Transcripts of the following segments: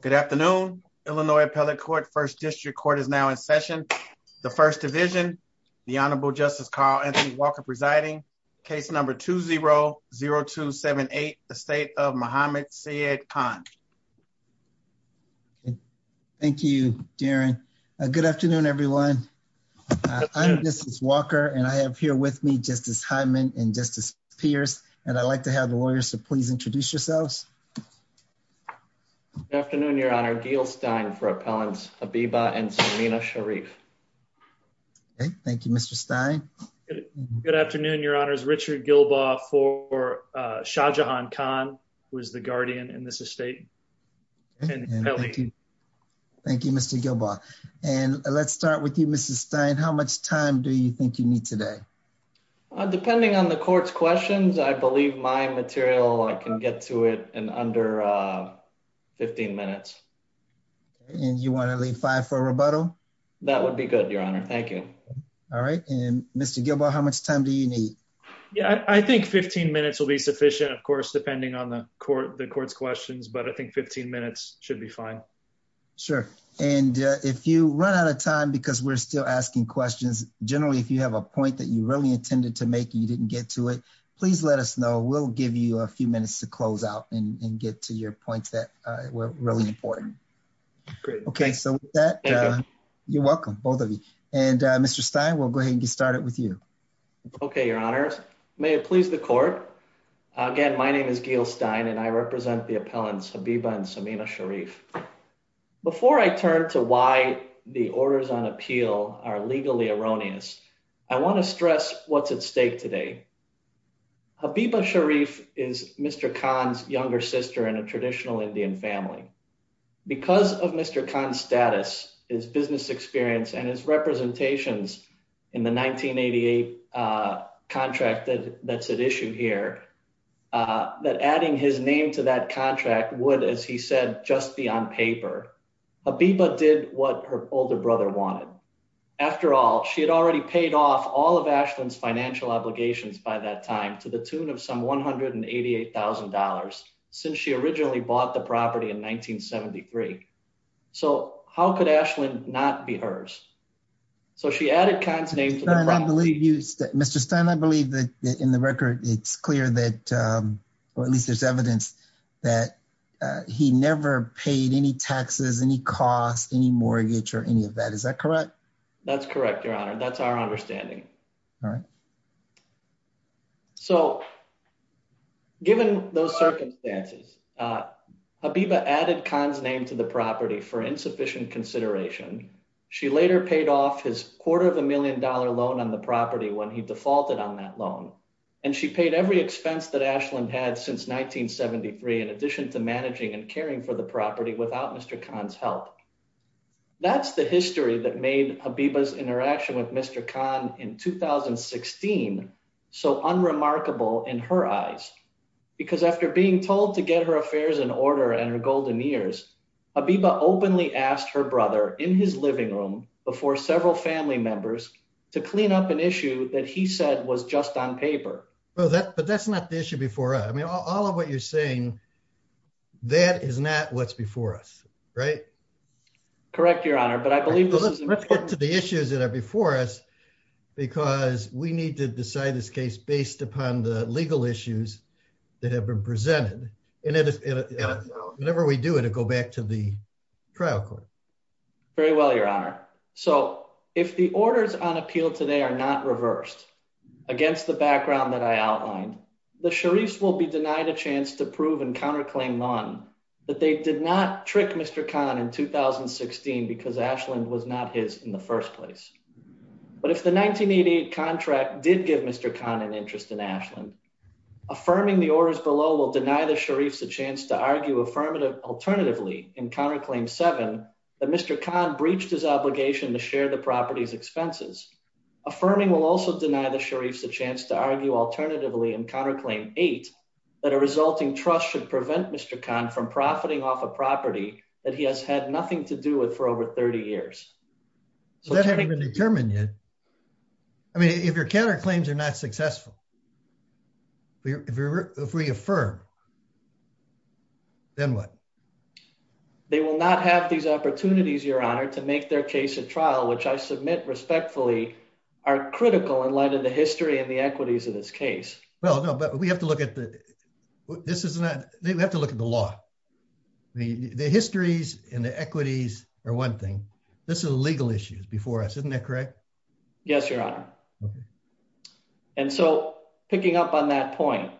Good afternoon, Illinois Appellate Court, First District Court is now in session. The First Division, the Honorable Justice Carl Anthony Walker presiding, case number 2-0-0278, the State of Muhammad Syed Khan. Thank you, Darren. Good afternoon, everyone. I'm Justice Walker, and I have here with me Justice Hyman and Justice Pierce, and I'd like to have the lawyers to please introduce yourselves. Good afternoon, Your Honor. Gil Stein for Appellants Habiba and Serena Sharif. Thank you, Mr. Stein. Good afternoon, Your Honors. Richard Gilbaugh for Shah Jahan Khan, who is the guardian in this estate. Thank you, Mr. Gilbaugh. And let's start with you, Mr. Stein. How much time do you think you need today? Depending on the court's questions, I believe my material, I can get to it in under 15 minutes. And you want to leave five for rebuttal? That would be good, Your Honor. Thank you. All right. And Mr. Gilbaugh, how much time do you need? Yeah, I think 15 minutes will be sufficient, of course, depending on the court, the court's questions, but I think 15 minutes should be fine. Sure. And if you run out of time, because we're still asking questions, generally, if you have a point that you really intended to make, you didn't get to it, please let us know. We'll give you a few minutes to close out and get to your points that were really important. Okay, so with that, you're welcome, both of you. And Mr. Stein, we'll go ahead and get started with you. Okay, Your Honors. May it please the court. Again, my name is Gil Stein, and I represent the appellants Habiba and Serena Sharif. Before I turn to why the orders on appeal are legally erroneous, I want to stress what's at stake today. Habiba Sharif is Mr. Khan's younger sister in a traditional Indian family. Because of Mr. Khan's status, his business experience, and his representations in the 1988 contract that's at issue here, that adding his name to that contract would, as he said, just be on paper. Habiba did what her older brother wanted. After all, she had already paid off all of Ashland's financial obligations by that time to the tune of some $188,000 since she originally bought the property in 1973. So how could Ashland not be hers? So she added Khan's name. Mr. Stein, I believe that in the record, it's clear that, or at least there's evidence, that he never paid any taxes, any costs, any mortgage, or any of that. Is that correct? That's correct, Your Honor. That's our understanding. All right. So given those circumstances, Habiba added Khan's name to the property for insufficient consideration. She later paid off his quarter of a million dollar loan on the property when he had since 1973, in addition to managing and caring for the property without Mr. Khan's help. That's the history that made Habiba's interaction with Mr. Khan in 2016 so unremarkable in her eyes. Because after being told to get her affairs in order and her golden years, Habiba openly asked her brother in his living room before several family members to clean up an issue that he said was just on paper. But that's not the issue before us. I mean, all of what you're saying, that is not what's before us, right? Correct, Your Honor. But I believe this is important. Let's get to the issues that are before us, because we need to decide this case based upon the legal issues that have been presented. And whenever we do, it'll go back to the trial court. Very well, Your Honor. So if the orders on appeal today are not reversed, against the background that I outlined, the Sharif's will be denied a chance to prove and counterclaim none that they did not trick Mr. Khan in 2016 because Ashland was not his in the first place. But if the 1988 contract did give Mr. Khan an interest in Ashland, affirming the orders below will deny the Sharif's a chance to argue alternatively and counterclaim seven that Mr. Khan breached his obligation to share the property's expenses. Affirming will also deny the Sharif's a chance to argue alternatively and counterclaim eight that a resulting trust should prevent Mr. Khan from profiting off a property that he has had nothing to do with for over 30 years. So that hasn't been determined yet. I mean, if your counterclaims are not successful, if we affirm, then what? They will not have these opportunities, Your Honor, to make their case a trial, which I submit respectfully are critical in light of the history and the equities of this case. Well, no, but we have to look at the, this is not, we have to look at the law. The histories and the equities are one thing. This is a legal issue before us, isn't that correct? Yes, Your Honor. And so picking up on that point,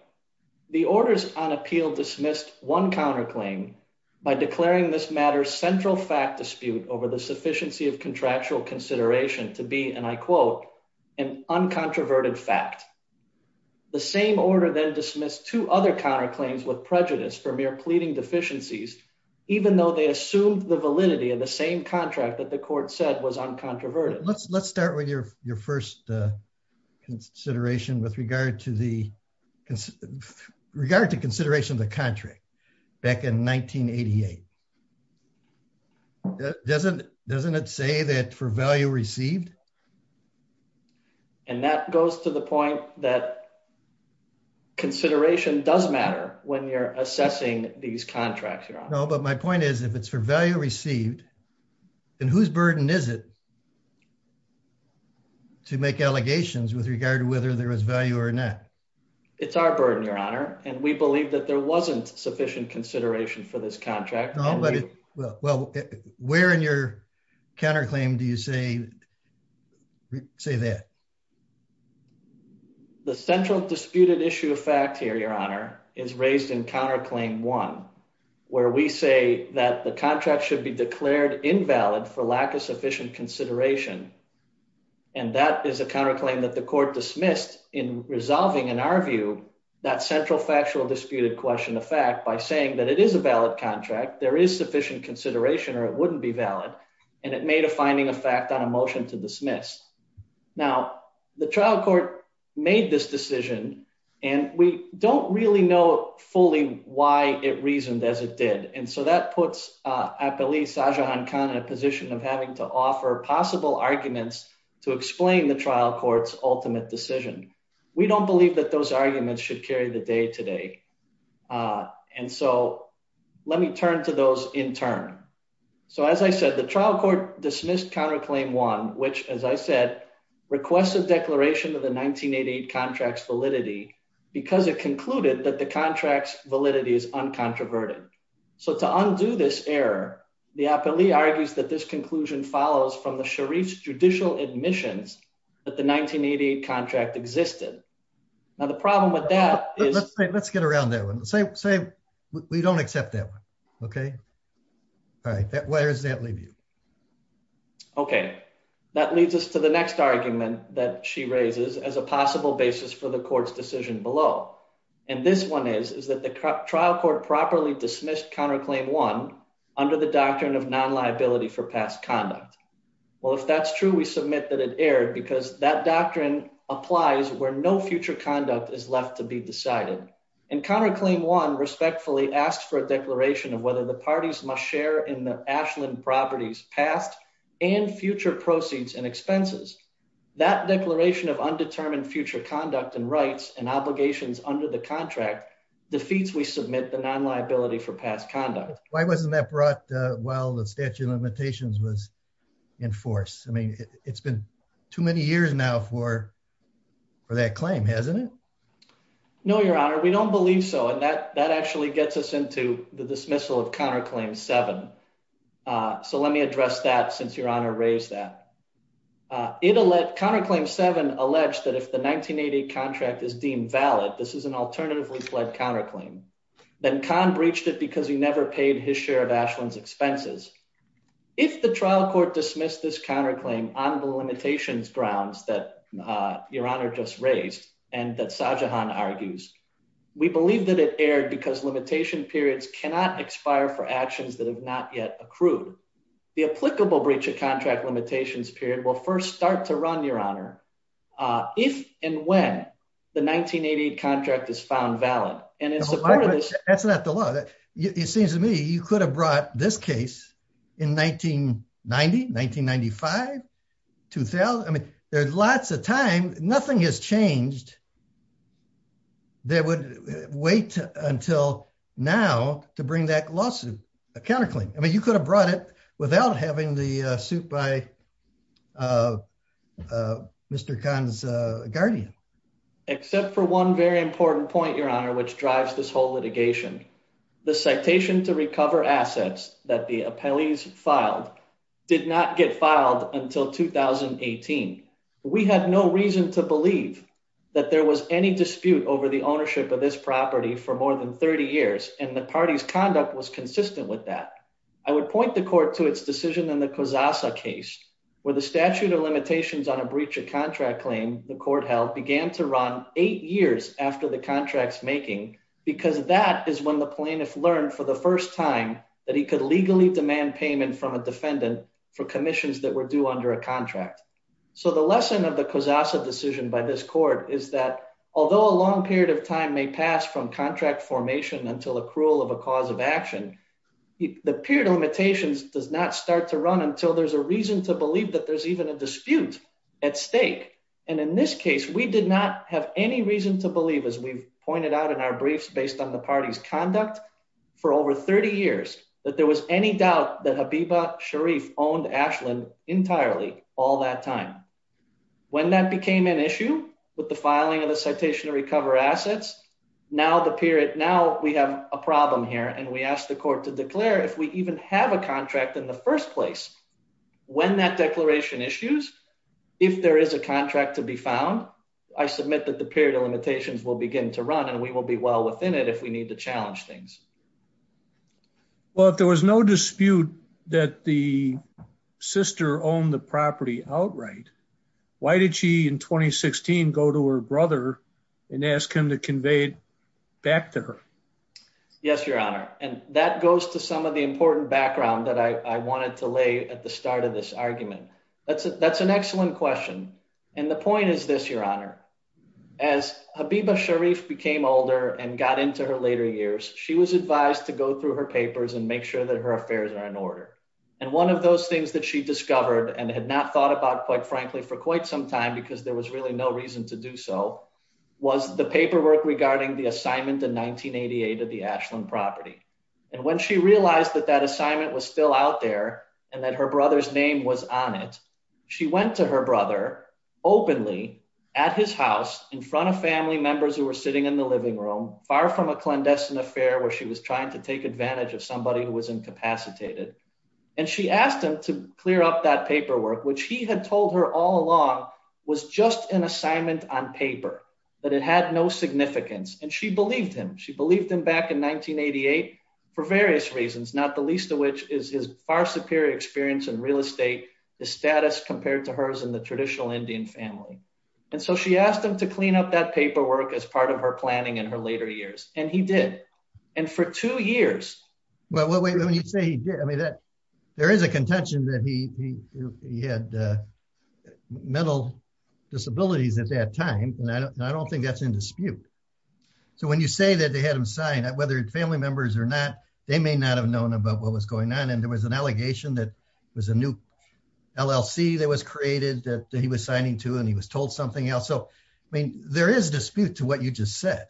the orders on appeal dismissed one counterclaim by declaring this matter's central fact dispute over the sufficiency of contractual consideration to be, and I quote, an uncontroverted fact. The same order then dismissed two other counterclaims with prejudice for mere pleading deficiencies, even though they assumed the validity of the same contract that the court said was uncontroverted. Let's start with your back in 1988. Doesn't, doesn't it say that for value received? And that goes to the point that consideration does matter when you're assessing these contracts, Your Honor. No, but my point is if it's for value received, then whose burden is it to make allegations with regard to whether there was value or not? It's our burden, Your Honor. And we believe that there wasn't sufficient consideration for this contract. Well, where in your counterclaim do you say, say that? The central disputed issue of fact here, Your Honor, is raised in counterclaim one, where we say that the contract should be declared invalid for lack of sufficient consideration. And that is a counterclaim that the court dismissed in resolving, in our view, that central factual disputed question of fact by saying that it is a valid contract, there is sufficient consideration, or it wouldn't be valid. And it made a finding of fact on a motion to dismiss. Now, the trial court made this decision, and we don't really know fully why it reasoned as it did. And so that puts, I believe, Sajahan Khan in a position of having to offer possible arguments to explain the trial court's ultimate decision. We don't believe that those arguments should carry the day to day. And so let me turn to those in turn. So as I said, the trial court dismissed counterclaim one, which, as I said, requested declaration of the 1988 contract's validity because it concluded that the contract's conclusion follows from the Sharif's judicial admissions that the 1988 contract existed. Now, the problem with that is... Let's get around that one. Say we don't accept that one. Okay. All right. Where does that leave you? Okay. That leads us to the next argument that she raises as a possible basis for the court's decision below. And this one is, is that the trial court properly dismissed counterclaim one under the doctrine of non-liability for past conduct? Well, if that's true, we submit that it erred because that doctrine applies where no future conduct is left to be decided. And counterclaim one respectfully asked for a declaration of whether the parties must share in the Ashland property's past and future proceeds and expenses. That declaration of undetermined future conduct and rights and obligations under the contract defeats we submit the non-liability for past conduct. Why wasn't that brought while the statute of limitations was in force? I mean, it's been too many years now for for that claim, hasn't it? No, your honor. We don't believe so. And that actually gets us into the dismissal of counterclaim seven. So let me address that since your honor raised that. Counterclaim seven alleged that if the 1988 contract is deemed valid, this is an alternatively pled counterclaim. Then Conn breached it because he never paid his share of Ashland's expenses. If the trial court dismissed this counterclaim on the limitations grounds that your honor just raised and that Sajahan argues, we believe that it erred because limitation periods cannot expire for actions that have not yet accrued. The applicable breach of contract limitations period will first start to run, your honor, if and when the 1988 contract is found valid. And in support of this, that's not the law. It seems to me you could have brought this case in 1990, 1995, 2000. I mean, there's lots of time. Nothing has changed that would wait until now to bring that lawsuit, a counterclaim. I mean, you could have brought it without having the suit by Mr. Conn's guardian. Except for one very important point, your honor, which drives this whole litigation. The citation to recover assets that the appellees filed did not get filed until 2018. We had no reason to believe that there was any dispute over the ownership of this property for more than 30 years. And the party's conduct was consistent with that. I would point the court to its decision in the Kozasa case where the statute of limitations on a breach of contract claim the court held began to run eight years after the contract's making, because that is when the plaintiff learned for the first time that he could legally demand payment from a defendant for commissions that were due under a contract. So the lesson of the Kozasa decision by this court is that although a long period of time may pass from contract formation until accrual of a cause of action, the period of limitations does not start to run until there's a reason to believe that there's even a dispute at stake. And in this case, we did not have any reason to believe as we've pointed out in our briefs based on the party's conduct for over 30 years, that there was any doubt that Habiba Sharif owned Ashland entirely all that time. When that became an issue with the filing of the citation to recover assets, now the period, now we have a problem here and we ask the court to declare if we even have a contract in the first place. When that declaration issues, if there is a contract to be found, I submit that the period of limitations will begin to run and we will be well within it if we need to challenge things. Well, if there was no dispute that the sister owned the property outright, why did she in 2016 go to her brother and ask him to convey it back to her? Yes, your honor. And that goes to some of the important background that I wanted to lay at the start of this argument. That's an excellent question. And the point is this, your honor, as Habiba Sharif became older and got into her later years, she was advised to go through her papers and make sure that her affairs are in order. And one of those things that she discovered and had not thought about, quite frankly, for quite some time because there was really no reason to do so, was the paperwork regarding the assignment in 1988 of the Ashland property. And when she realized that that assignment was still out there and that her brother's name was on it, she went to her brother openly at his house in front of family members who were sitting in the living room, far from a clandestine affair where she was trying to take advantage of somebody who was incapacitated. And she asked him to clear up that paperwork, which he had told her all along was just an assignment on paper, that it had no significance. And she believed him. She believed him back in 1988 for various reasons, not the least of which is his far superior experience in real estate, the status compared to hers in the traditional Indian family. And so she asked him to clean up that paperwork as part of her planning in her later years. And he had mental disabilities at that time. And I don't think that's in dispute. So when you say that they had him signed, whether family members or not, they may not have known about what was going on. And there was an allegation that it was a new LLC that was created that he was signing to and he was told something else. So, I mean, there is dispute to what you just said.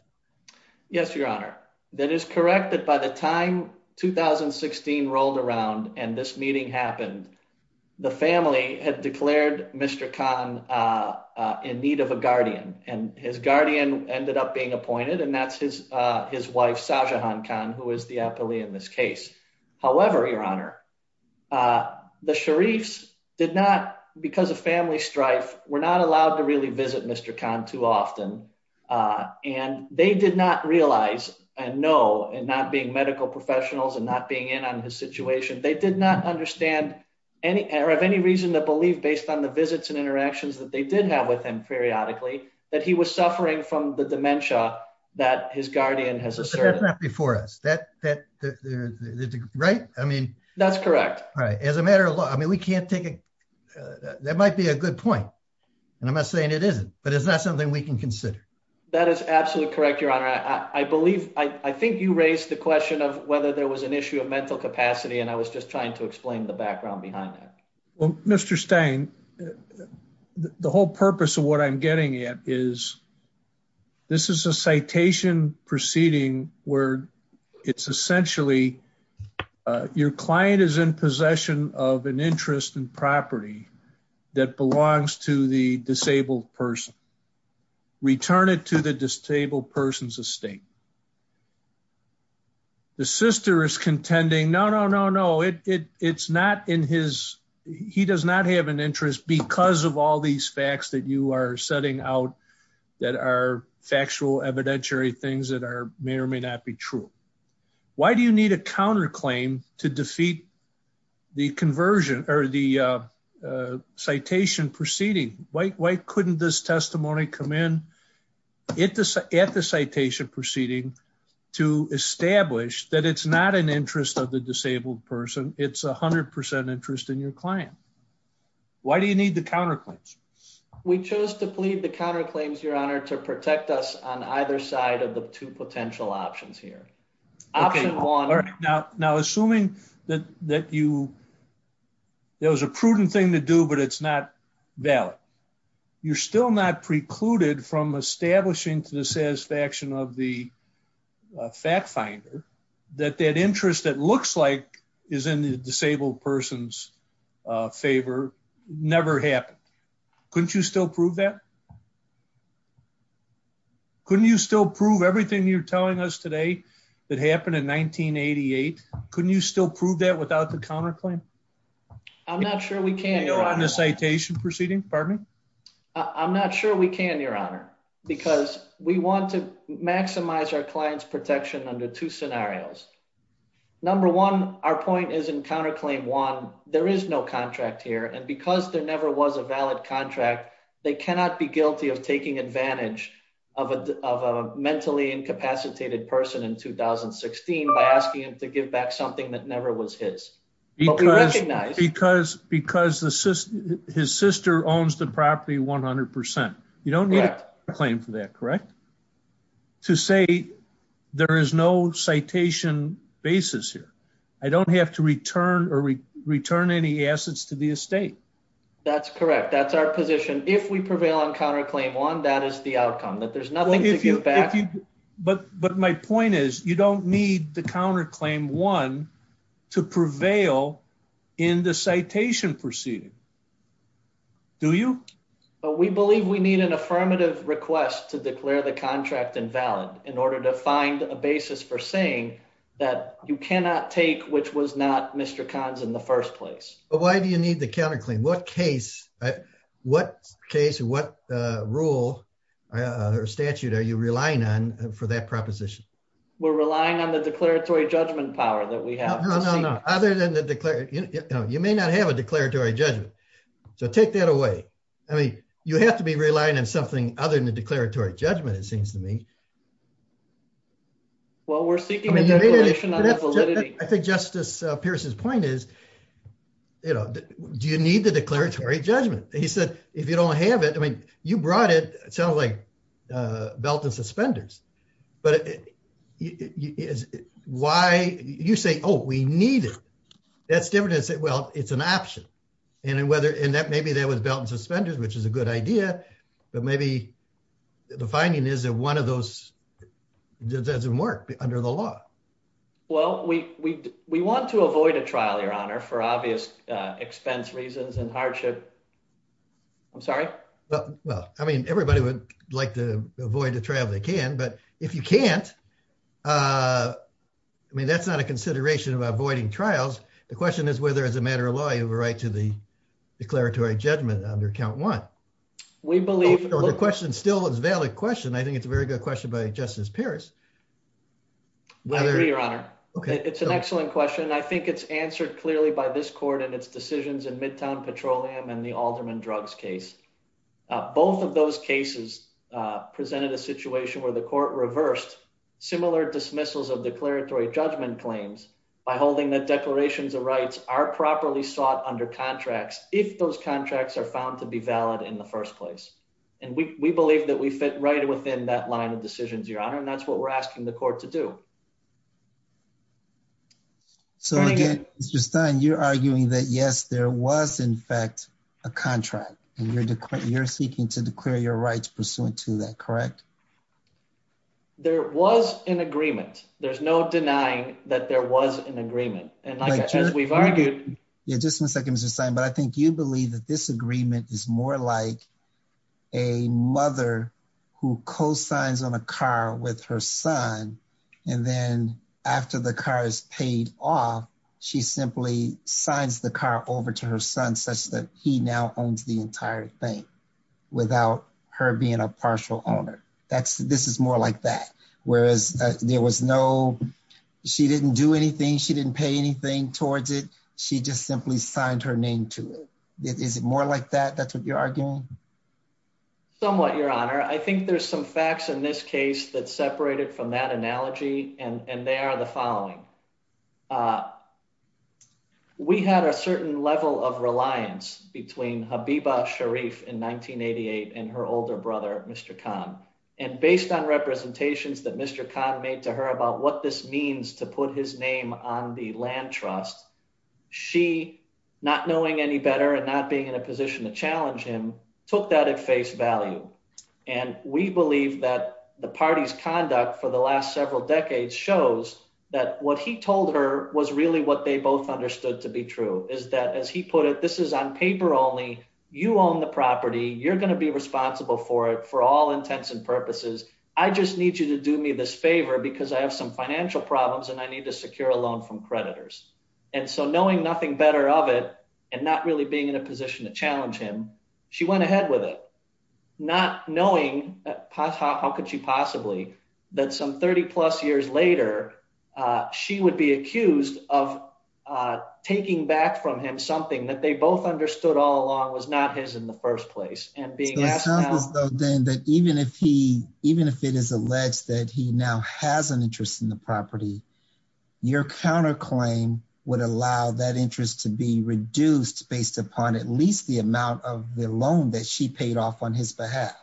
Yes, Your Honor. That is correct that by the time 2016 rolled around and this meeting happened, the family had declared Mr. Khan in need of a guardian. And his guardian ended up being appointed. And that's his wife, Sajahan Khan, who is the appellee in this case. However, Your Honor, the Sharifs did not, because of family strife, were not allowed to really visit Mr. Khan too often. And they did not realize and know and not being medical professionals and not being in on his situation, they did not understand or have any reason to believe, based on the visits and interactions that they did have with him periodically, that he was suffering from the dementia that his guardian has asserted. But that's not before us, right? That's correct. All right. As a matter of law, I mean, we can't take a... That might be a good point. And I'm not saying it isn't, but it's not something we can consider. That is absolutely correct, Your Honor. I believe, I think you raised the question of whether there was an issue of mental capacity, and I was just trying to explain the background behind that. Well, Mr. Stein, the whole purpose of what I'm getting at is, this is a citation proceeding where it's essentially, your client is in possession of an interest in property that belongs to the disabled person. Return it to the disabled person's estate. And the sister is contending, no, no, no, no. It's not in his... He does not have an interest because of all these facts that you are setting out that are factual, evidentiary things that may or may not be true. Why do you need a counterclaim to defeat the conversion or the testimony come in at the citation proceeding to establish that it's not an interest of the disabled person, it's 100% interest in your client? Why do you need the counterclaims? We chose to plead the counterclaims, Your Honor, to protect us on either side of the two potential options here. Option one... Okay. All right. Now, assuming that you... You're still not precluded from establishing to the satisfaction of the fact finder that that interest that looks like is in the disabled person's favor never happened. Couldn't you still prove that? Couldn't you still prove everything you're telling us today that happened in 1988? Couldn't you still prove that without the counterclaim? I'm not sure we can, Your Honor. On the citation proceeding? Pardon me? I'm not sure we can, Your Honor, because we want to maximize our client's protection under two scenarios. Number one, our point is in counterclaim one, there is no contract here and because there never was a valid contract, they cannot be guilty of taking advantage of a mentally incapacitated person in 2016 by asking him to give back something that never was his. Because his sister owns the property 100%. You don't need a claim for that, correct? To say there is no citation basis here. I don't have to return or return any assets to the estate. That's correct. That's our position. If we prevail on counterclaim one, that is the outcome, that there's nothing to give back. But my point is you don't need the counterclaim one to prevail in the citation proceeding, do you? We believe we need an affirmative request to declare the contract invalid in order to find a basis for saying that you cannot take which was not Mr. Kahn's in the first place. But why do you need the counterclaim? What case, what case, what rule or statute are you relying on for that proposition? We're relying on the declaratory judgment power that we have. Other than the declaratory, you may not have a declaratory judgment. So take that away. I mean, you have to be relying on something other than the declaratory judgment, it seems to me. Well, we're seeking validation. I think Justice Pierce's point is, you know, do you need the declaratory judgment? He said, if you don't have it, I mean, you brought it, it sounds like belt and suspenders. But why you say, oh, we need it. That's different. Well, it's an option. And whether and that maybe there was belt and suspenders, which is a good idea. But maybe the finding is that one of those doesn't work under the law. Well, we want to avoid a trial, Your Honor, for obvious expense reasons and I mean, everybody would like to avoid the trial they can, but if you can't, I mean, that's not a consideration of avoiding trials. The question is whether as a matter of law, you have a right to the declaratory judgment under count one. We believe the question still is valid question. I think it's a very good question by Justice Pierce. I agree, Your Honor. It's an excellent question. I think it's answered clearly by this court and decisions in Midtown Petroleum and the Alderman Drugs case. Both of those cases presented a situation where the court reversed similar dismissals of declaratory judgment claims by holding that declarations of rights are properly sought under contracts if those contracts are found to be valid in the first place. And we believe that we fit right within that line of decisions, Your Honor. And that's what we're asking the court to do. So, again, Mr. Stein, you're arguing that, yes, there was, in fact, a contract and you're you're seeking to declare your rights pursuant to that, correct? There was an agreement. There's no denying that there was an agreement. And as we've argued... Yeah, just one second, Mr. Stein, but I think you believe that this agreement is more like a mother who cosigns on a car with her son and then after the car is paid off, she simply signs the car over to her son such that he now owns the entire thing without her being a partial owner. This is more like that. Whereas there was no... She didn't do anything. She didn't pay anything towards it. She just simply signed her name to it. Is it more like that? That's what you're arguing? Somewhat, Your Honor. I think there's some facts in this case that separate it from that analogy, and they are the following. We had a certain level of reliance between Habiba Sharif in 1988 and her older brother, Mr. Khan. And based on representations that Mr. Khan made to her about what this means to put his name on the land trust, she, not knowing any better and not being in a position to challenge him, took that at face value. And we believe that the party's conduct for the last several decades shows that what he told her was really what they both understood to be true, is that, as he put it, this is on paper only. You own the property. You're going to be responsible for it for all intents and purposes. I just need you to do me this favor because I have some financial problems and I need to secure a loan from creditors. And so knowing nothing better of it and not really being in a position to challenge him, she went ahead with it, not knowing, how could she possibly, that some 30 plus years later, she would be accused of taking back from him something that they both understood all along was not his in the first place. So it sounds as though, Dan, that even if it is alleged that he now has an interest in the property, your counterclaim would allow that interest to be reduced based upon at least the amount of the loan that she paid off on his behalf.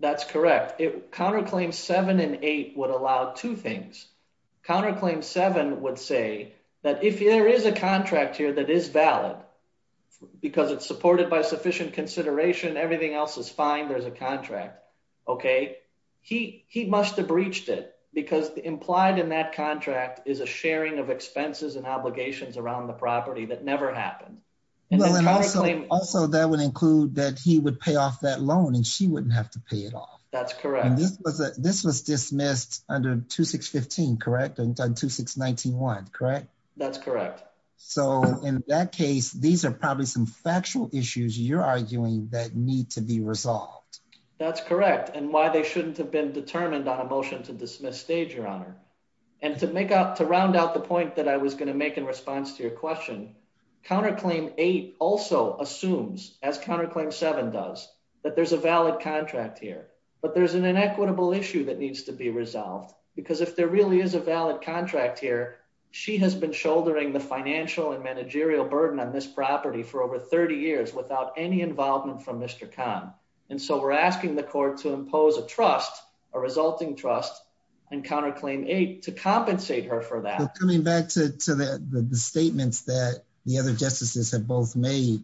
That's correct. Counterclaim seven and eight would allow two things. Counterclaim seven would say that if there is a contract here that is valid because it's supported by sufficient consideration, everything else is fine. There's a contract. Okay. He must have breached it because implied in that contract is a sharing of expenses and obligations around the property that never happened. Also, that would include that he would pay off that loan and she wouldn't have to pay it off. That's correct. This was dismissed under 2615, correct? And 2691, correct? That's correct. So in that case, these are probably some factual issues you're arguing that need to be resolved. That's correct. And why they shouldn't have been determined on a motion to dismiss stage, your honor. And to make out, to round out the point that I was going to make in response to your question, counterclaim eight also assumes as counterclaim seven does that there's a valid contract here, but there's an inequitable issue that needs to be resolved because if there really is a valid contract here, she has been shouldering the financial and managerial burden on this property for over 30 years without any involvement from Mr. Khan. And so we're asking the court to impose a trust, a resulting trust and counterclaim eight to compensate her for that. Coming back to the statements that the other justices have both made,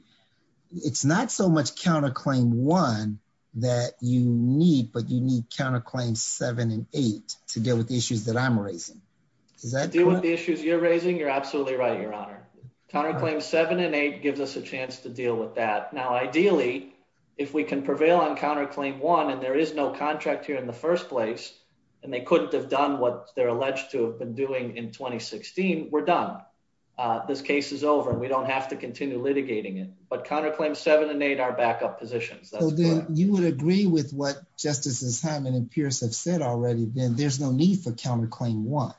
it's not so much counterclaim one that you need, but you need counterclaim seven and eight to deal with the Is that deal with the issues you're raising? You're absolutely right. Your honor, counterclaim seven and eight gives us a chance to deal with that. Now, ideally, if we can prevail on counterclaim one, and there is no contract here in the first place, and they couldn't have done what they're alleged to have been doing in 2016, we're done. This case is over. We don't have to continue litigating it, but counterclaim seven and eight are backup positions. You would agree with what justices have and peers have said already, then there's no need for counterclaim one.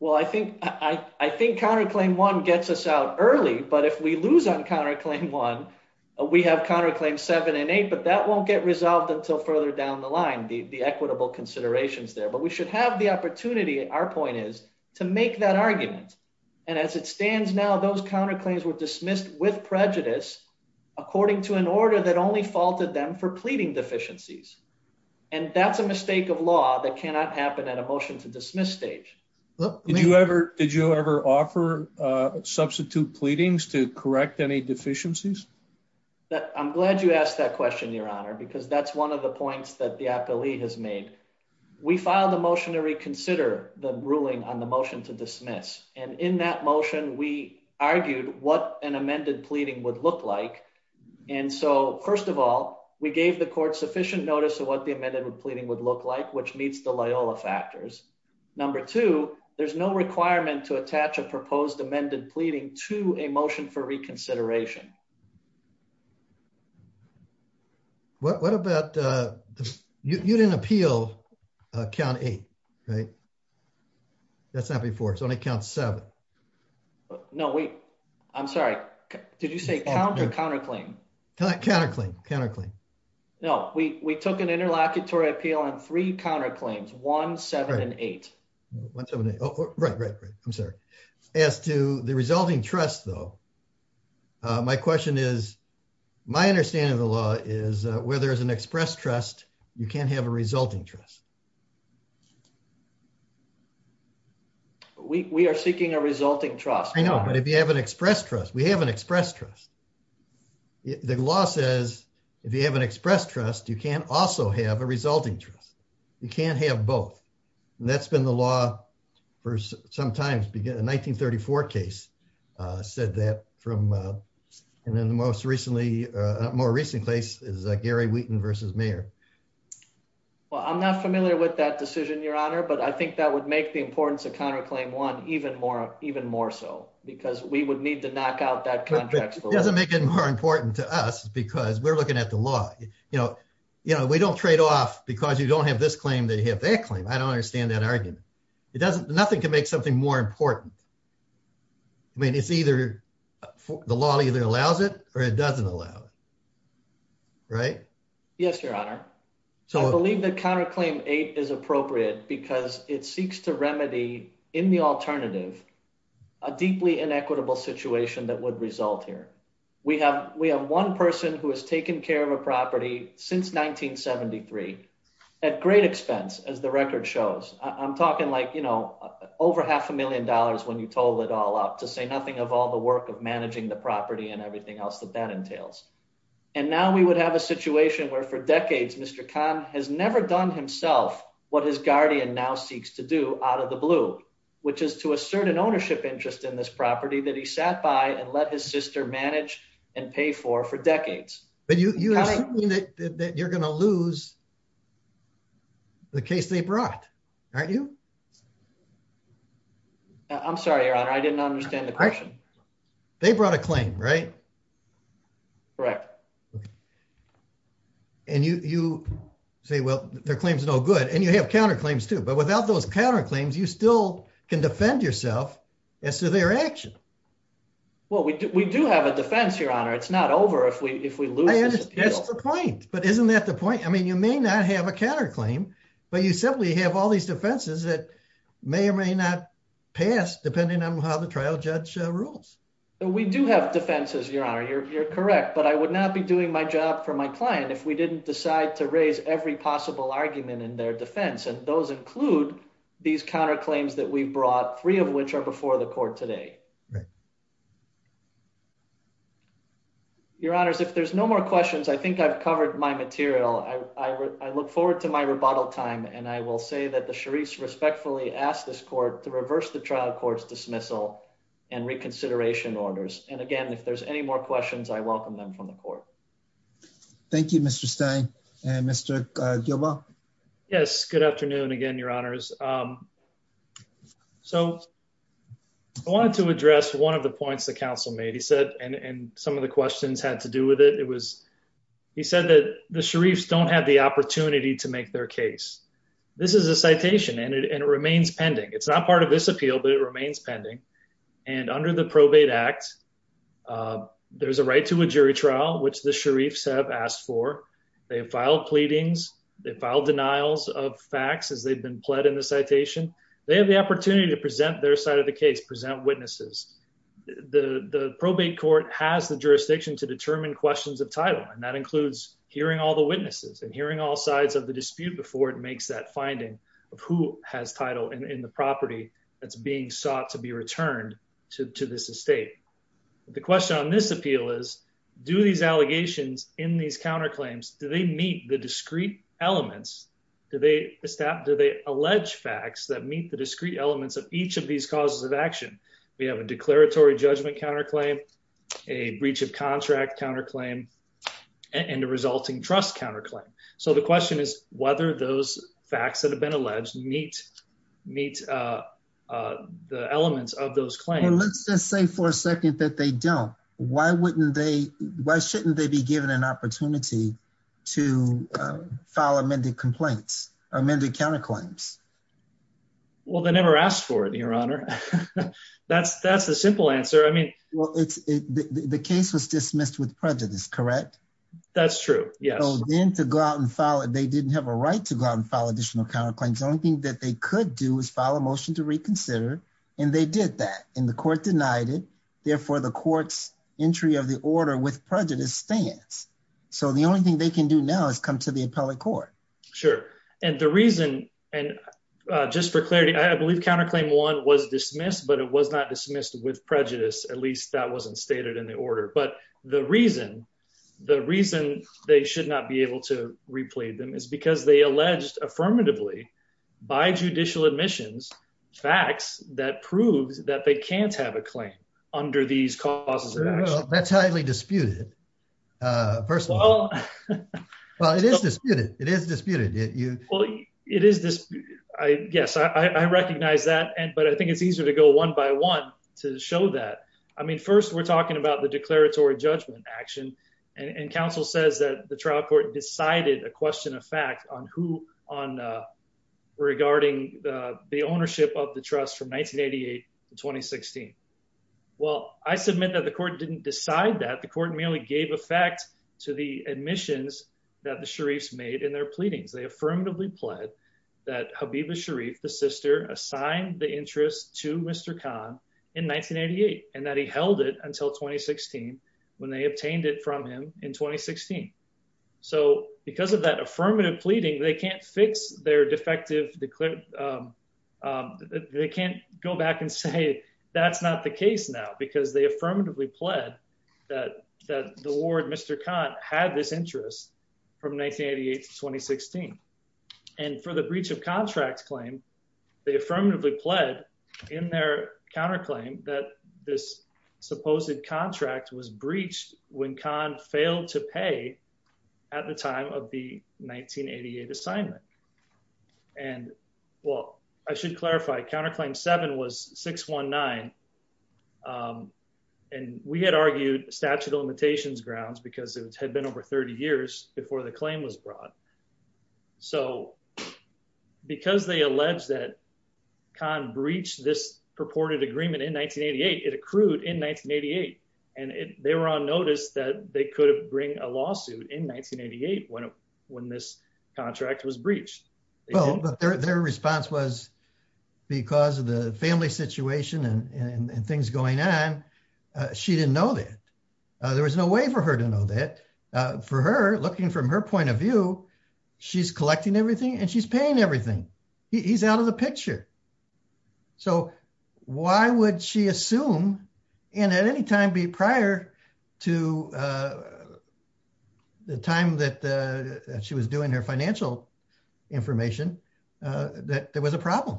Well, I think I think counterclaim one gets us out early, but if we lose on counterclaim one, we have counterclaim seven and eight, but that won't get resolved until further down the line, the equitable considerations there, but we should have the opportunity. Our point is to make that argument. And as it stands now, those counterclaims were dismissed with prejudice according to an order that only faulted them for that's a mistake of law that cannot happen at a motion to dismiss stage. Did you ever offer substitute pleadings to correct any deficiencies? I'm glad you asked that question, your honor, because that's one of the points that the appellee has made. We filed a motion to reconsider the ruling on the motion to dismiss. And in that motion, we argued what an amended pleading would look like. And so first of all, we gave the court sufficient notice of what the amendment of pleading would look like, which meets the Loyola factors. Number two, there's no requirement to attach a proposed amended pleading to a motion for reconsideration. What about you didn't appeal count eight, right? That's not before it's only count seven. No, wait, I'm sorry. Did you say counter counterclaim? counterclaim counterclaim? No, we took an interlocutory appeal on three counterclaims, one, seven, and eight. One, seven, eight. Oh, right, right, right. I'm sorry. As to the resulting trust, though, my question is, my understanding of the law is where there is an express trust, you can't have a resulting trust. We are seeking a resulting trust. I know, but if you have an express trust, we have an express trust. The law says, if you have an express trust, you can also have a resulting trust. You can't have both. And that's been the law for some time to begin a 1934 case said that from, and then the most recently, more recent case is Gary Wheaton versus mayor. Well, I'm not familiar with that decision, Your Honor. But I think that would make the doesn't make it more important to us, because we're looking at the law, you know, you know, we don't trade off, because you don't have this claim that you have that claim. I don't understand that argument. It doesn't nothing can make something more important. I mean, it's either the law either allows it or it doesn't allow it. Right? Yes, Your Honor. So I believe that counterclaim eight is appropriate, because it seeks to remedy in the alternative, a deeply inequitable situation that would result here. We have we have one person who has taken care of a property since 1973. At great expense, as the record shows, I'm talking like, you know, over half a million dollars when you told it all up to say nothing of all the work of managing the property and everything else that that entails. And now we would have a situation where for decades, Mr. Khan has never done himself what his guardian now seeks to do out of the blue, which is to assert an ownership interest in this property that he sat by and let his sister manage and pay for for decades. But you that you're gonna lose the case they brought, aren't you? I'm sorry, Your Honor, I didn't understand the question. They brought a claim, right? Correct. And you say, well, their claims no good, and you have counterclaims, too. But without those counterclaims, you still can defend yourself as to their action. Well, we do have a defense, Your Honor, it's not over if we if we lose. That's the point. But isn't that the point? I mean, you may not have a counterclaim. But you simply have all these defenses that may or may not pass depending on how the trial judge rules. We do have defenses, Your Honor, you're correct. But I would not be doing my job for my client if we didn't decide to raise every possible argument in their defense. And those include these counterclaims that we brought, three of which are before the court today. Your Honors, if there's no more questions, I think I've covered my material. I look forward to my rebuttal time. And I will say that the Sharif respectfully asked this court to reverse the trial court's dismissal and reconsideration orders. And again, if there's any more questions, I welcome them from the court. Thank you, Mr Stein and Mr Gilboa. Yes. Good afternoon again, Your Honors. Um, so I wanted to address one of the points the council made, he said, and some of the questions had to do with it. It was he said that the Sharifs don't have the opportunity to make their case. This is a citation and it remains pending. It's not part of this appeal, but it remains pending. And under the probate act, uh, there's a right to a jury trial, which the Sharifs have asked for. They have filed pleadings. They filed denials of facts as they've been pled in the citation. They have the opportunity to present their side of the case, present witnesses. The probate court has the jurisdiction to determine questions of title. And that includes hearing all the witnesses and hearing all sides of the dispute before it makes that finding of who has title in the property that's being sought to be returned to this estate. The question on this appeal is, do these allegations in these counterclaims, do they meet the discrete elements? Do they stop? Do they allege facts that meet the discrete elements of each of these causes of action? We have a declaratory judgment counterclaim, a breach of contract counterclaim and a resulting trust counterclaim. So the question is whether those facts that have been alleged meet, meet, uh, uh, the elements of those claims. Let's just say for a second that they don't, why wouldn't they, why shouldn't they be given an opportunity to file amended complaints, amended counterclaims? Well, they never asked for it in your honor. That's, that's the simple answer. I mean, well, it's the case was dismissed with prejudice, correct? That's true. Yeah. So then to go out and file it, they didn't have a right to go out and file additional counterclaims. The only thing that they could do is file a motion to reconsider. And they did that in the court denied it. Therefore the court's entry of the order with prejudice stands. So the only thing they can do now is come to the appellate court. Sure. And the reason, and just for clarity, I believe counterclaim one was dismissed, but it was not dismissed with prejudice. At least that wasn't stated in the order, but the reason, the reason they should not be able to replay them is because they alleged affirmatively by judicial admissions facts that proves that they can't have a claim under these causes. That's highly disputed. Uh, first of all, well, it is disputed. It is disputed. It is this I guess I recognize that. And, but I think it's easier to go one by one to show that. I mean, first we're talking about the declaratory judgment action and counsel says that the trial court decided a question of fact on who on, uh, regarding the, the ownership of the trust from 1988 to 2016. Well, I submit that the court didn't decide that the court merely gave a fact to the admissions that the Sharif's made in their pleadings. They affirmatively pled that Habiba Sharif, the sister assigned the interest to Mr. Khan in 1988, and that he held it until 2016 when they obtained it from him in 2016. So because of that affirmative pleading, they can't fix their defective declared. Um, um, they can't go back and say, Hey, that's not the case now because they affirmatively pled that, that the Lord, Mr. Khan had this interest from 1988 to 2016. And for the breach of contract claim, they affirmatively pled in their counterclaim that this supposed contract was breached when Khan failed to pay at the time of the 1988 assignment. And well, I should clarify counterclaim seven was six one nine. Um, and we had argued statute of limitations grounds because it had been over 30 years before the claim was brought. So because they allege that Khan breached this purported agreement in 1988, it accrued in 1988. And they were on notice that they could have bring a lawsuit in 1988 when, when this contract was breached. Well, but their, their response was because of the family situation and things going on, she didn't know that. Uh, there was no way for her to know that, uh, for her looking from her point of view, she's collecting everything and she's paying everything. He's out of the picture. So why would she assume in at any time be prior to, uh, the time that, uh, she was doing her financial information, uh, that there was a problem.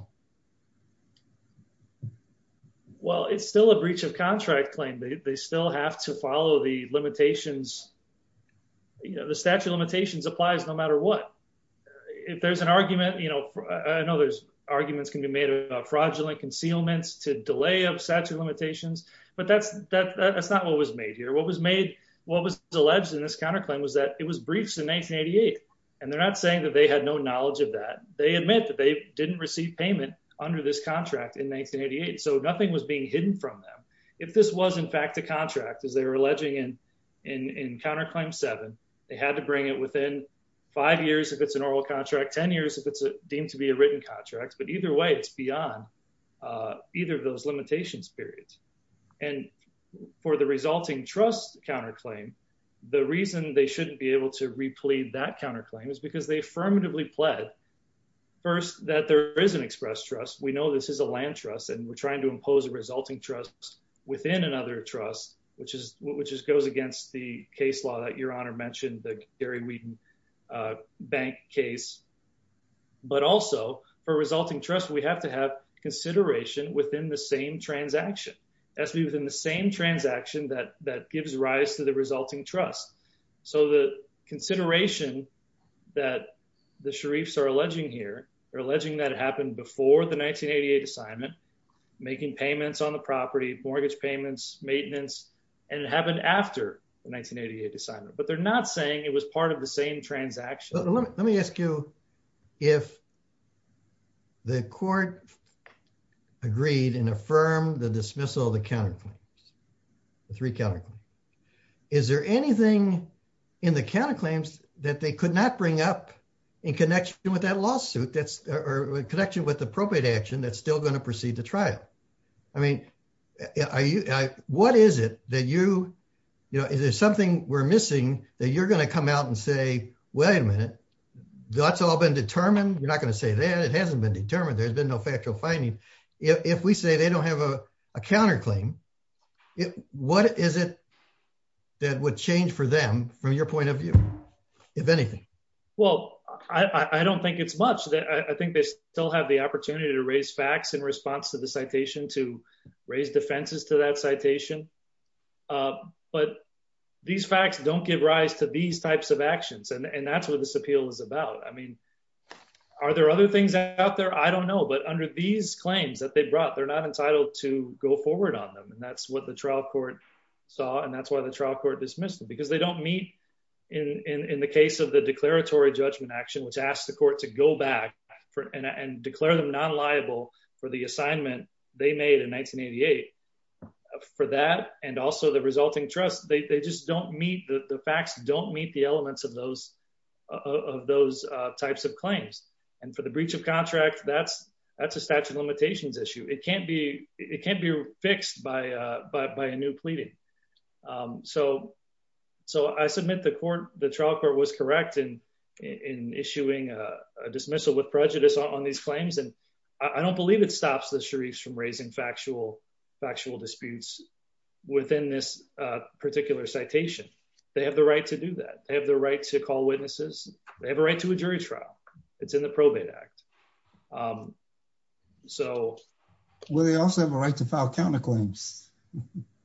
Well, it's still a breach of contract claim. They still have to follow the limitations. You know, the statute of limitations applies no argument. You know, I know there's arguments can be made about fraudulent concealments to delay of statute of limitations, but that's, that's not what was made here. What was made, what was alleged in this counterclaim was that it was breached in 1988. And they're not saying that they had no knowledge of that. They admit that they didn't receive payment under this contract in 1988. So nothing was being hidden from them. If this was in fact, the contract is they were alleging in, in, in counterclaim seven, they had to bring it within five years. If it's an oral contract, 10 years, if it's deemed to be a written contract, but either way, it's beyond, uh, either of those limitations periods and for the resulting trust counterclaim, the reason they shouldn't be able to replete that counterclaim is because they affirmatively pled first that there is an express trust. We know this is a land trust and we're trying to impose a resulting trust within another trust, which is, which is goes against the case law that your a bank case, but also for resulting trust, we have to have consideration within the same transaction as we, within the same transaction that, that gives rise to the resulting trust. So the consideration that the Sharifs are alleging here, they're alleging that it happened before the 1988 assignment, making payments on the property, mortgage payments, maintenance, and it happened after the 1988 assignment, but they're not saying it was part of the same transaction. Well, let me, let me ask you if the court agreed and affirm the dismissal of the counterclaims, the three counterclaims, is there anything in the counterclaims that they could not bring up in connection with that lawsuit? That's a connection with appropriate action. That's you know, is there something we're missing that you're going to come out and say, wait a minute, that's all been determined. You're not going to say that it hasn't been determined. There's been no factual finding. If we say they don't have a counterclaim, what is it that would change for them from your point of view, if anything? Well, I don't think it's much that I think they still have the opportunity to raise facts in citation, to raise defenses to that citation. But these facts don't give rise to these types of actions. And that's what this appeal is about. I mean, are there other things out there? I don't know. But under these claims that they brought, they're not entitled to go forward on them. And that's what the trial court saw. And that's why the trial court dismissed them because they don't meet in the case of the declaratory judgment action, which asked the court to go back and declare them non-liable for the assignment they made in 1988. For that, and also the resulting trust, they just don't meet, the facts don't meet the elements of those types of claims. And for the breach of contract, that's a statute of limitations issue. It can't be fixed by a new treaty. So I submit the trial court was correct in issuing a dismissal with prejudice on these claims. And I don't believe it stops the Sharifs from raising factual disputes within this particular citation. They have the right to do that. They have the right to call witnesses. They have a right to a jury trial. It's in the Probate Act. So will they also have a right to file counterclaims?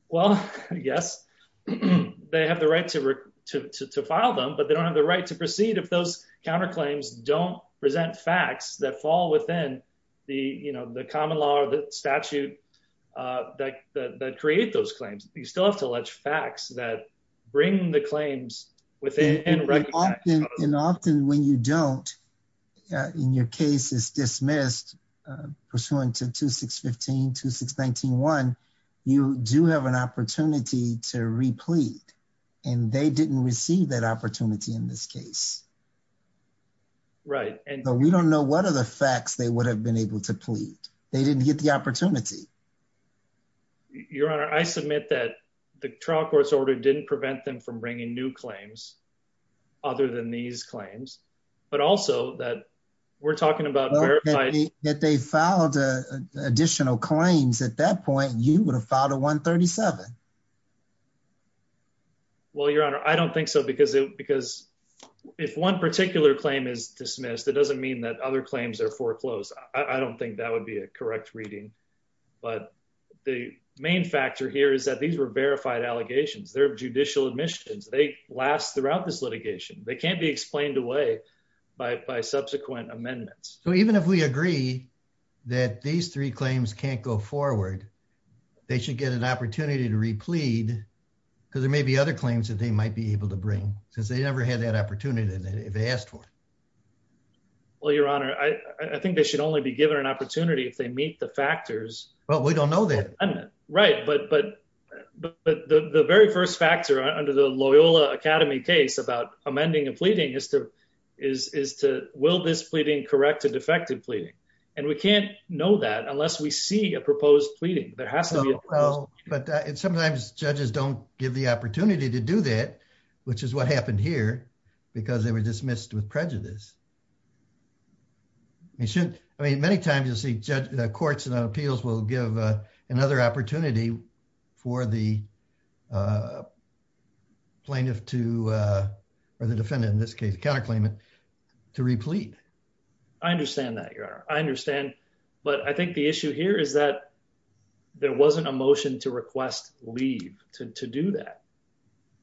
Well, yes, they have the right to file them, but they don't have the right to proceed if those counterclaims don't present facts that fall within the common law or the statute that create those claims. You still have to allege facts that bring the claims within. And often when you don't, in your case is dismissed pursuant to 2615, 2619-1, you do have an opportunity to replete and they didn't receive that opportunity in this case. Right. And we don't know what are the facts they would have been able to plead. They didn't get the opportunity. Your Honor, I submit that the trial order didn't prevent them from bringing new claims other than these claims, but also that we're talking about that they filed additional claims. At that point, you would have filed a 137. Well, Your Honor, I don't think so, because if one particular claim is dismissed, it doesn't mean that other claims are foreclosed. I don't think that would be a correct reading. But the main factor here is that these were verified allegations. They're judicial admissions. They last throughout this litigation. They can't be explained away by subsequent amendments. So even if we agree that these three claims can't go forward, they should get an opportunity to replete because there may be other claims that they might be able to bring since they never had that opportunity if they asked for it. Well, Your Honor, I think they should only be Well, we don't know that. Right. But the very first factor under the Loyola Academy case about amending and pleading is to, will this pleading correct a defective pleading? And we can't know that unless we see a proposed pleading. There has to be. But sometimes judges don't give the opportunity to do that, which is what happened here because they were dismissed with prejudice. They should. I mean, many times you'll see courts and appeals will give another opportunity for the plaintiff to, or the defendant in this case, counterclaim it to replete. I understand that, Your Honor. I understand. But I think the issue here is that there wasn't a motion to request leave to do that.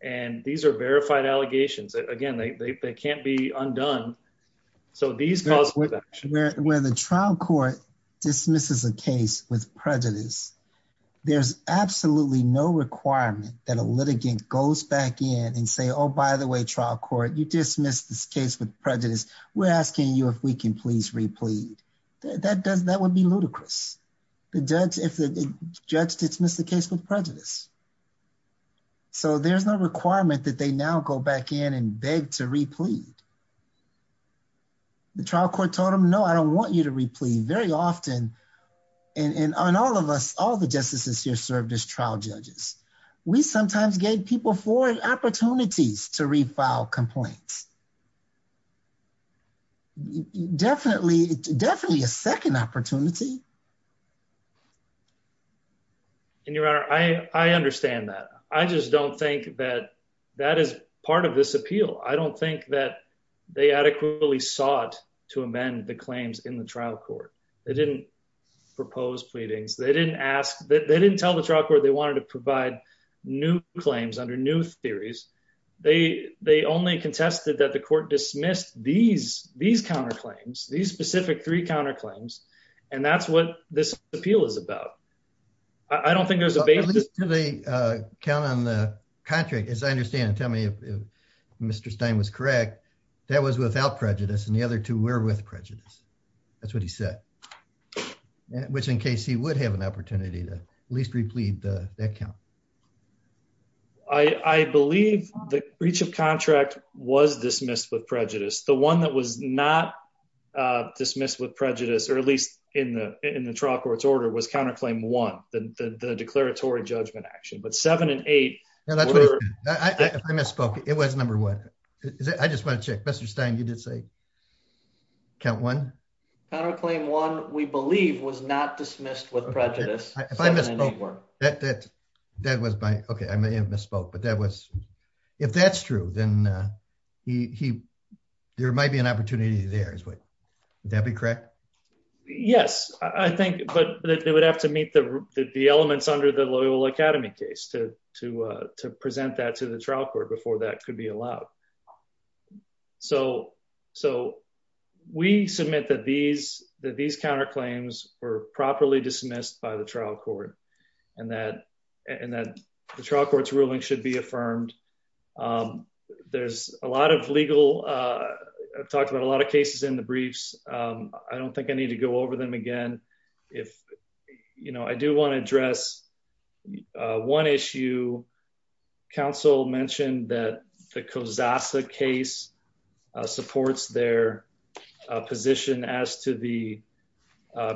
And these are verified allegations. Again, they can't be undone. So these calls for that. Where the trial court dismisses a case with prejudice, there's absolutely no requirement that a litigant goes back in and say, oh, by the way, trial court, you dismissed this case with prejudice. We're asking you if we can please replete. That does, that would be ludicrous. The judge, if the judge dismissed the case with prejudice. So there's no requirement that they now go back in and beg to replete. The trial court told him, no, I don't want you to replete very often. And on all of us, all the justices here served as trial judges. We sometimes gave people forward opportunities to refile complaints. Definitely, definitely a second opportunity. And Your Honor, I understand that. I just don't think that that is part of this appeal. I don't think that they adequately sought to amend the claims in the trial court. They didn't propose pleadings. They didn't ask that. They didn't tell the trial court they wanted to provide new claims under new theories. They, they only contested that the court dismissed these, these counterclaims, these specific three counterclaims. And that's what this appeal is about. I don't think there's a basis to the count on the contract, as I understand it. Tell me if Mr. Stein was correct, that was without prejudice and the other two were with prejudice. That's what he said, which in case he would have an opportunity to at least replete the account. I believe the breach of contract was dismissed with prejudice. The one that was not dismissed with prejudice, or at least in the, in the trial court's order was counterclaim one, the declaratory judgment action, but seven and eight, I misspoke. It was number one. I just want to check. Mr. Stein, you did say count one. Counterclaim one, we believe was not dismissed with prejudice. That, that, that was my, okay. I may have misspoke, but that was, if that's true, then he, he, there might be an opportunity there as well. That'd be correct. Yes, I think, but they would have to meet the, the elements under the Loyola Academy case to, to, to present that to the trial court before that could be allowed. So, so we submit that these, that these counterclaims were properly dismissed by the trial court and that, and that the trial court's ruling should be affirmed. There's a lot of legal, I've talked about a lot of cases in the briefs. I don't think I need to go over them again. If, you know, I do want to address one issue. Council mentioned that the Kozasa case supports their position as to the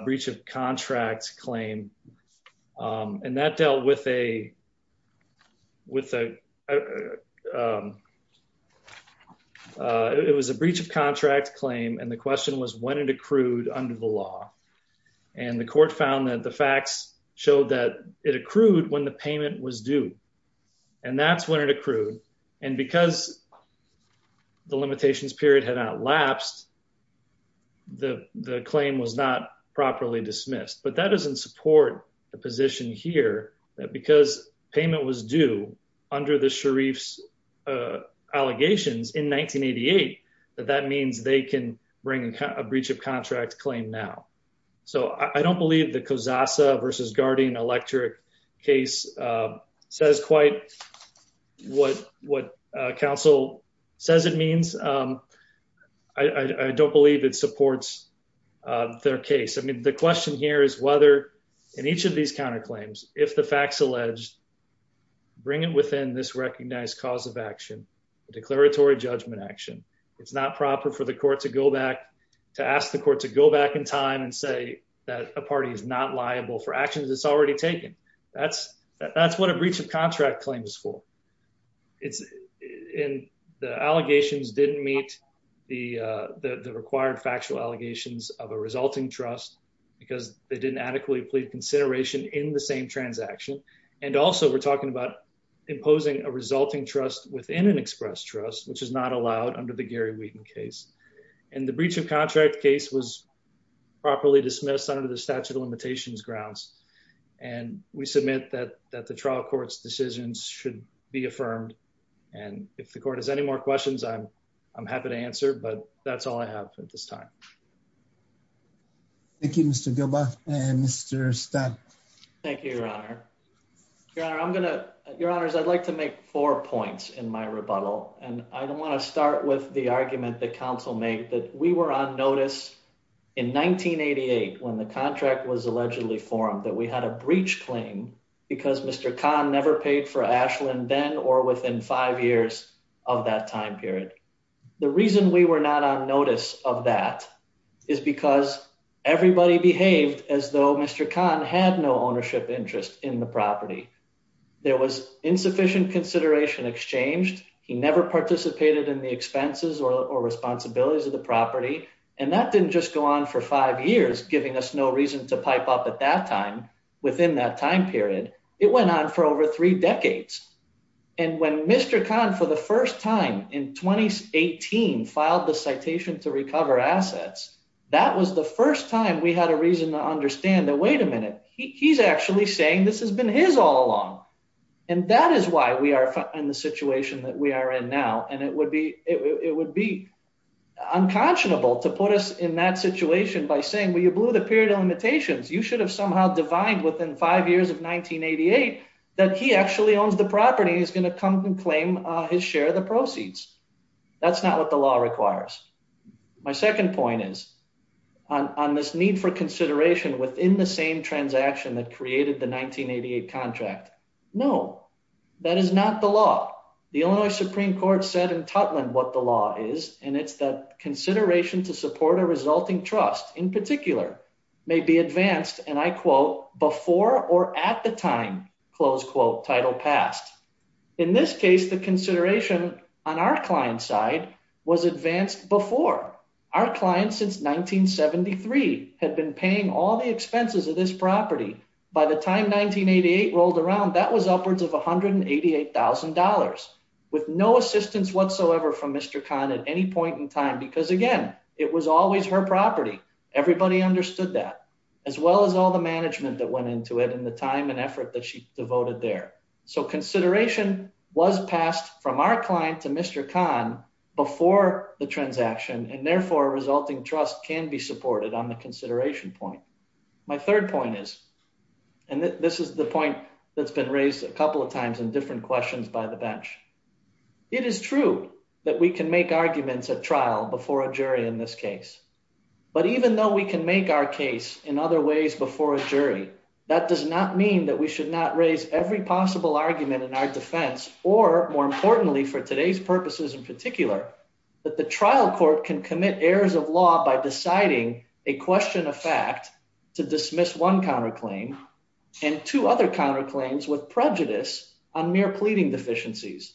breach of contracts claim. And that dealt with a, with a, it was a breach of contract claim. And the question was when it accrued under the law. And the court found that the facts showed that it accrued when the payment was due and that's when it accrued. And because the limitations period had not lapsed, the, the claim was not properly dismissed, but that doesn't support the position here that because payment was due under the Sharif's allegations in 1988, that that means they can bring a breach of contract claim now. So I don't believe the Kozasa versus Guardian Electric case says quite what, what council says it means. I don't believe it supports their case. I mean, the question here is whether in each of these counterclaims, if the facts alleged, bring it within this recognized cause of action, the declaratory judgment action, it's not proper for the court to go back to ask the court to go back in time and say that a party is not liable for actions it's already taken. That's, that's what a breach of contract claim is for. It's in the allegations didn't meet the, the required factual allegations of a resulting trust because they didn't adequately plead consideration in the same transaction. And also we're talking about imposing a resulting trust within an express trust, which is not allowed under the Gary Wheaton case. And the breach of contract case was properly dismissed under the statute of limitations grounds. And we submit that, that the trial court's decisions should be affirmed. And if the court has any more questions, I'm, I'm happy to answer, but that's all I have at this time. Thank you, Mr. Gilbert and Mr. Scott. Thank you, your honor. Your honor, I'm going to, your honors, I'd like to make four points in my rebuttal. And I don't want to start with the argument that council made that we were on notice in 1988, when the contract was allegedly formed, that we had a breach claim because Mr. Khan never paid for Ashland then, or within five years of that time period. The reason we were not on notice of that is because everybody behaved as though Mr. Khan had no ownership interest in the property. There was insufficient consideration exchanged. He never participated in the expenses or responsibilities of the property. And that within that time period, it went on for over three decades. And when Mr. Khan for the first time in 2018 filed the citation to recover assets, that was the first time we had a reason to understand that, wait a minute, he he's actually saying this has been his all along. And that is why we are in the situation that we are in now. And it would be, it would be unconscionable to put us in that within five years of 1988, that he actually owns the property is going to come and claim his share of the proceeds. That's not what the law requires. My second point is on this need for consideration within the same transaction that created the 1988 contract. No, that is not the law. The Illinois Supreme Court said in Totland what the law is, and it's that consideration to before or at the time close quote title passed. In this case, the consideration on our client's side was advanced before our clients since 1973 had been paying all the expenses of this property by the time 1988 rolled around, that was upwards of $188,000 with no assistance whatsoever from Mr. Khan at any point in time, because again, it was always her property. Everybody understood that as well as all the management that went into it and the time and effort that she devoted there. So consideration was passed from our client to Mr. Khan before the transaction and therefore resulting trust can be supported on the consideration point. My third point is, and this is the point that's been raised a couple of times in different questions by the bench. It is true that we can make arguments at trial before a jury in this case, but even though we can make our case in other ways before a jury, that does not mean that we should not raise every possible argument in our defense, or more importantly for today's purposes in particular, that the trial court can commit errors of law by deciding a question of fact to dismiss one counterclaim and two other counterclaims with prejudice on mere pleading deficiencies.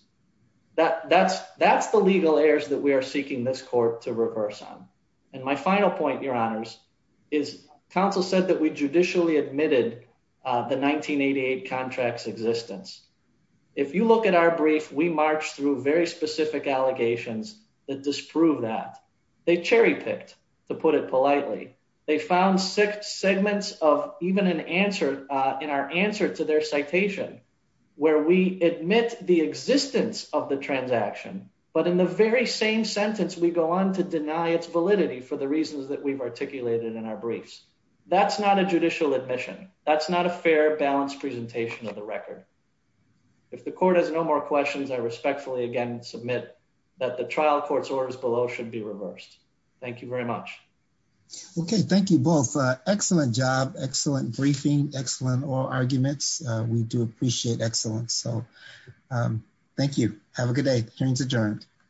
That that's, that's the legal errors that we are seeking this court to reverse on. And my final point, your honors is counsel said that we judicially admitted the 1988 contracts existence. If you look at our brief, we marched through very specific allegations that disprove that they cherry picked to put it politely. They found six segments of even an answer in our answer to their citation, where we admit the existence of the transaction, but in the very same sentence, we go on to deny its validity for the reasons that we've articulated in our briefs. That's not a judicial admission. That's not a fair balance presentation of the record. If the court has no more questions, I respectfully again, submit that the trial court's orders below should be reversed. Thank you very much. Okay. Thank you both. Excellent job. Excellent briefing. Excellent arguments. We do appreciate excellence. So thank you. Have a good day. Hearing's adjourned.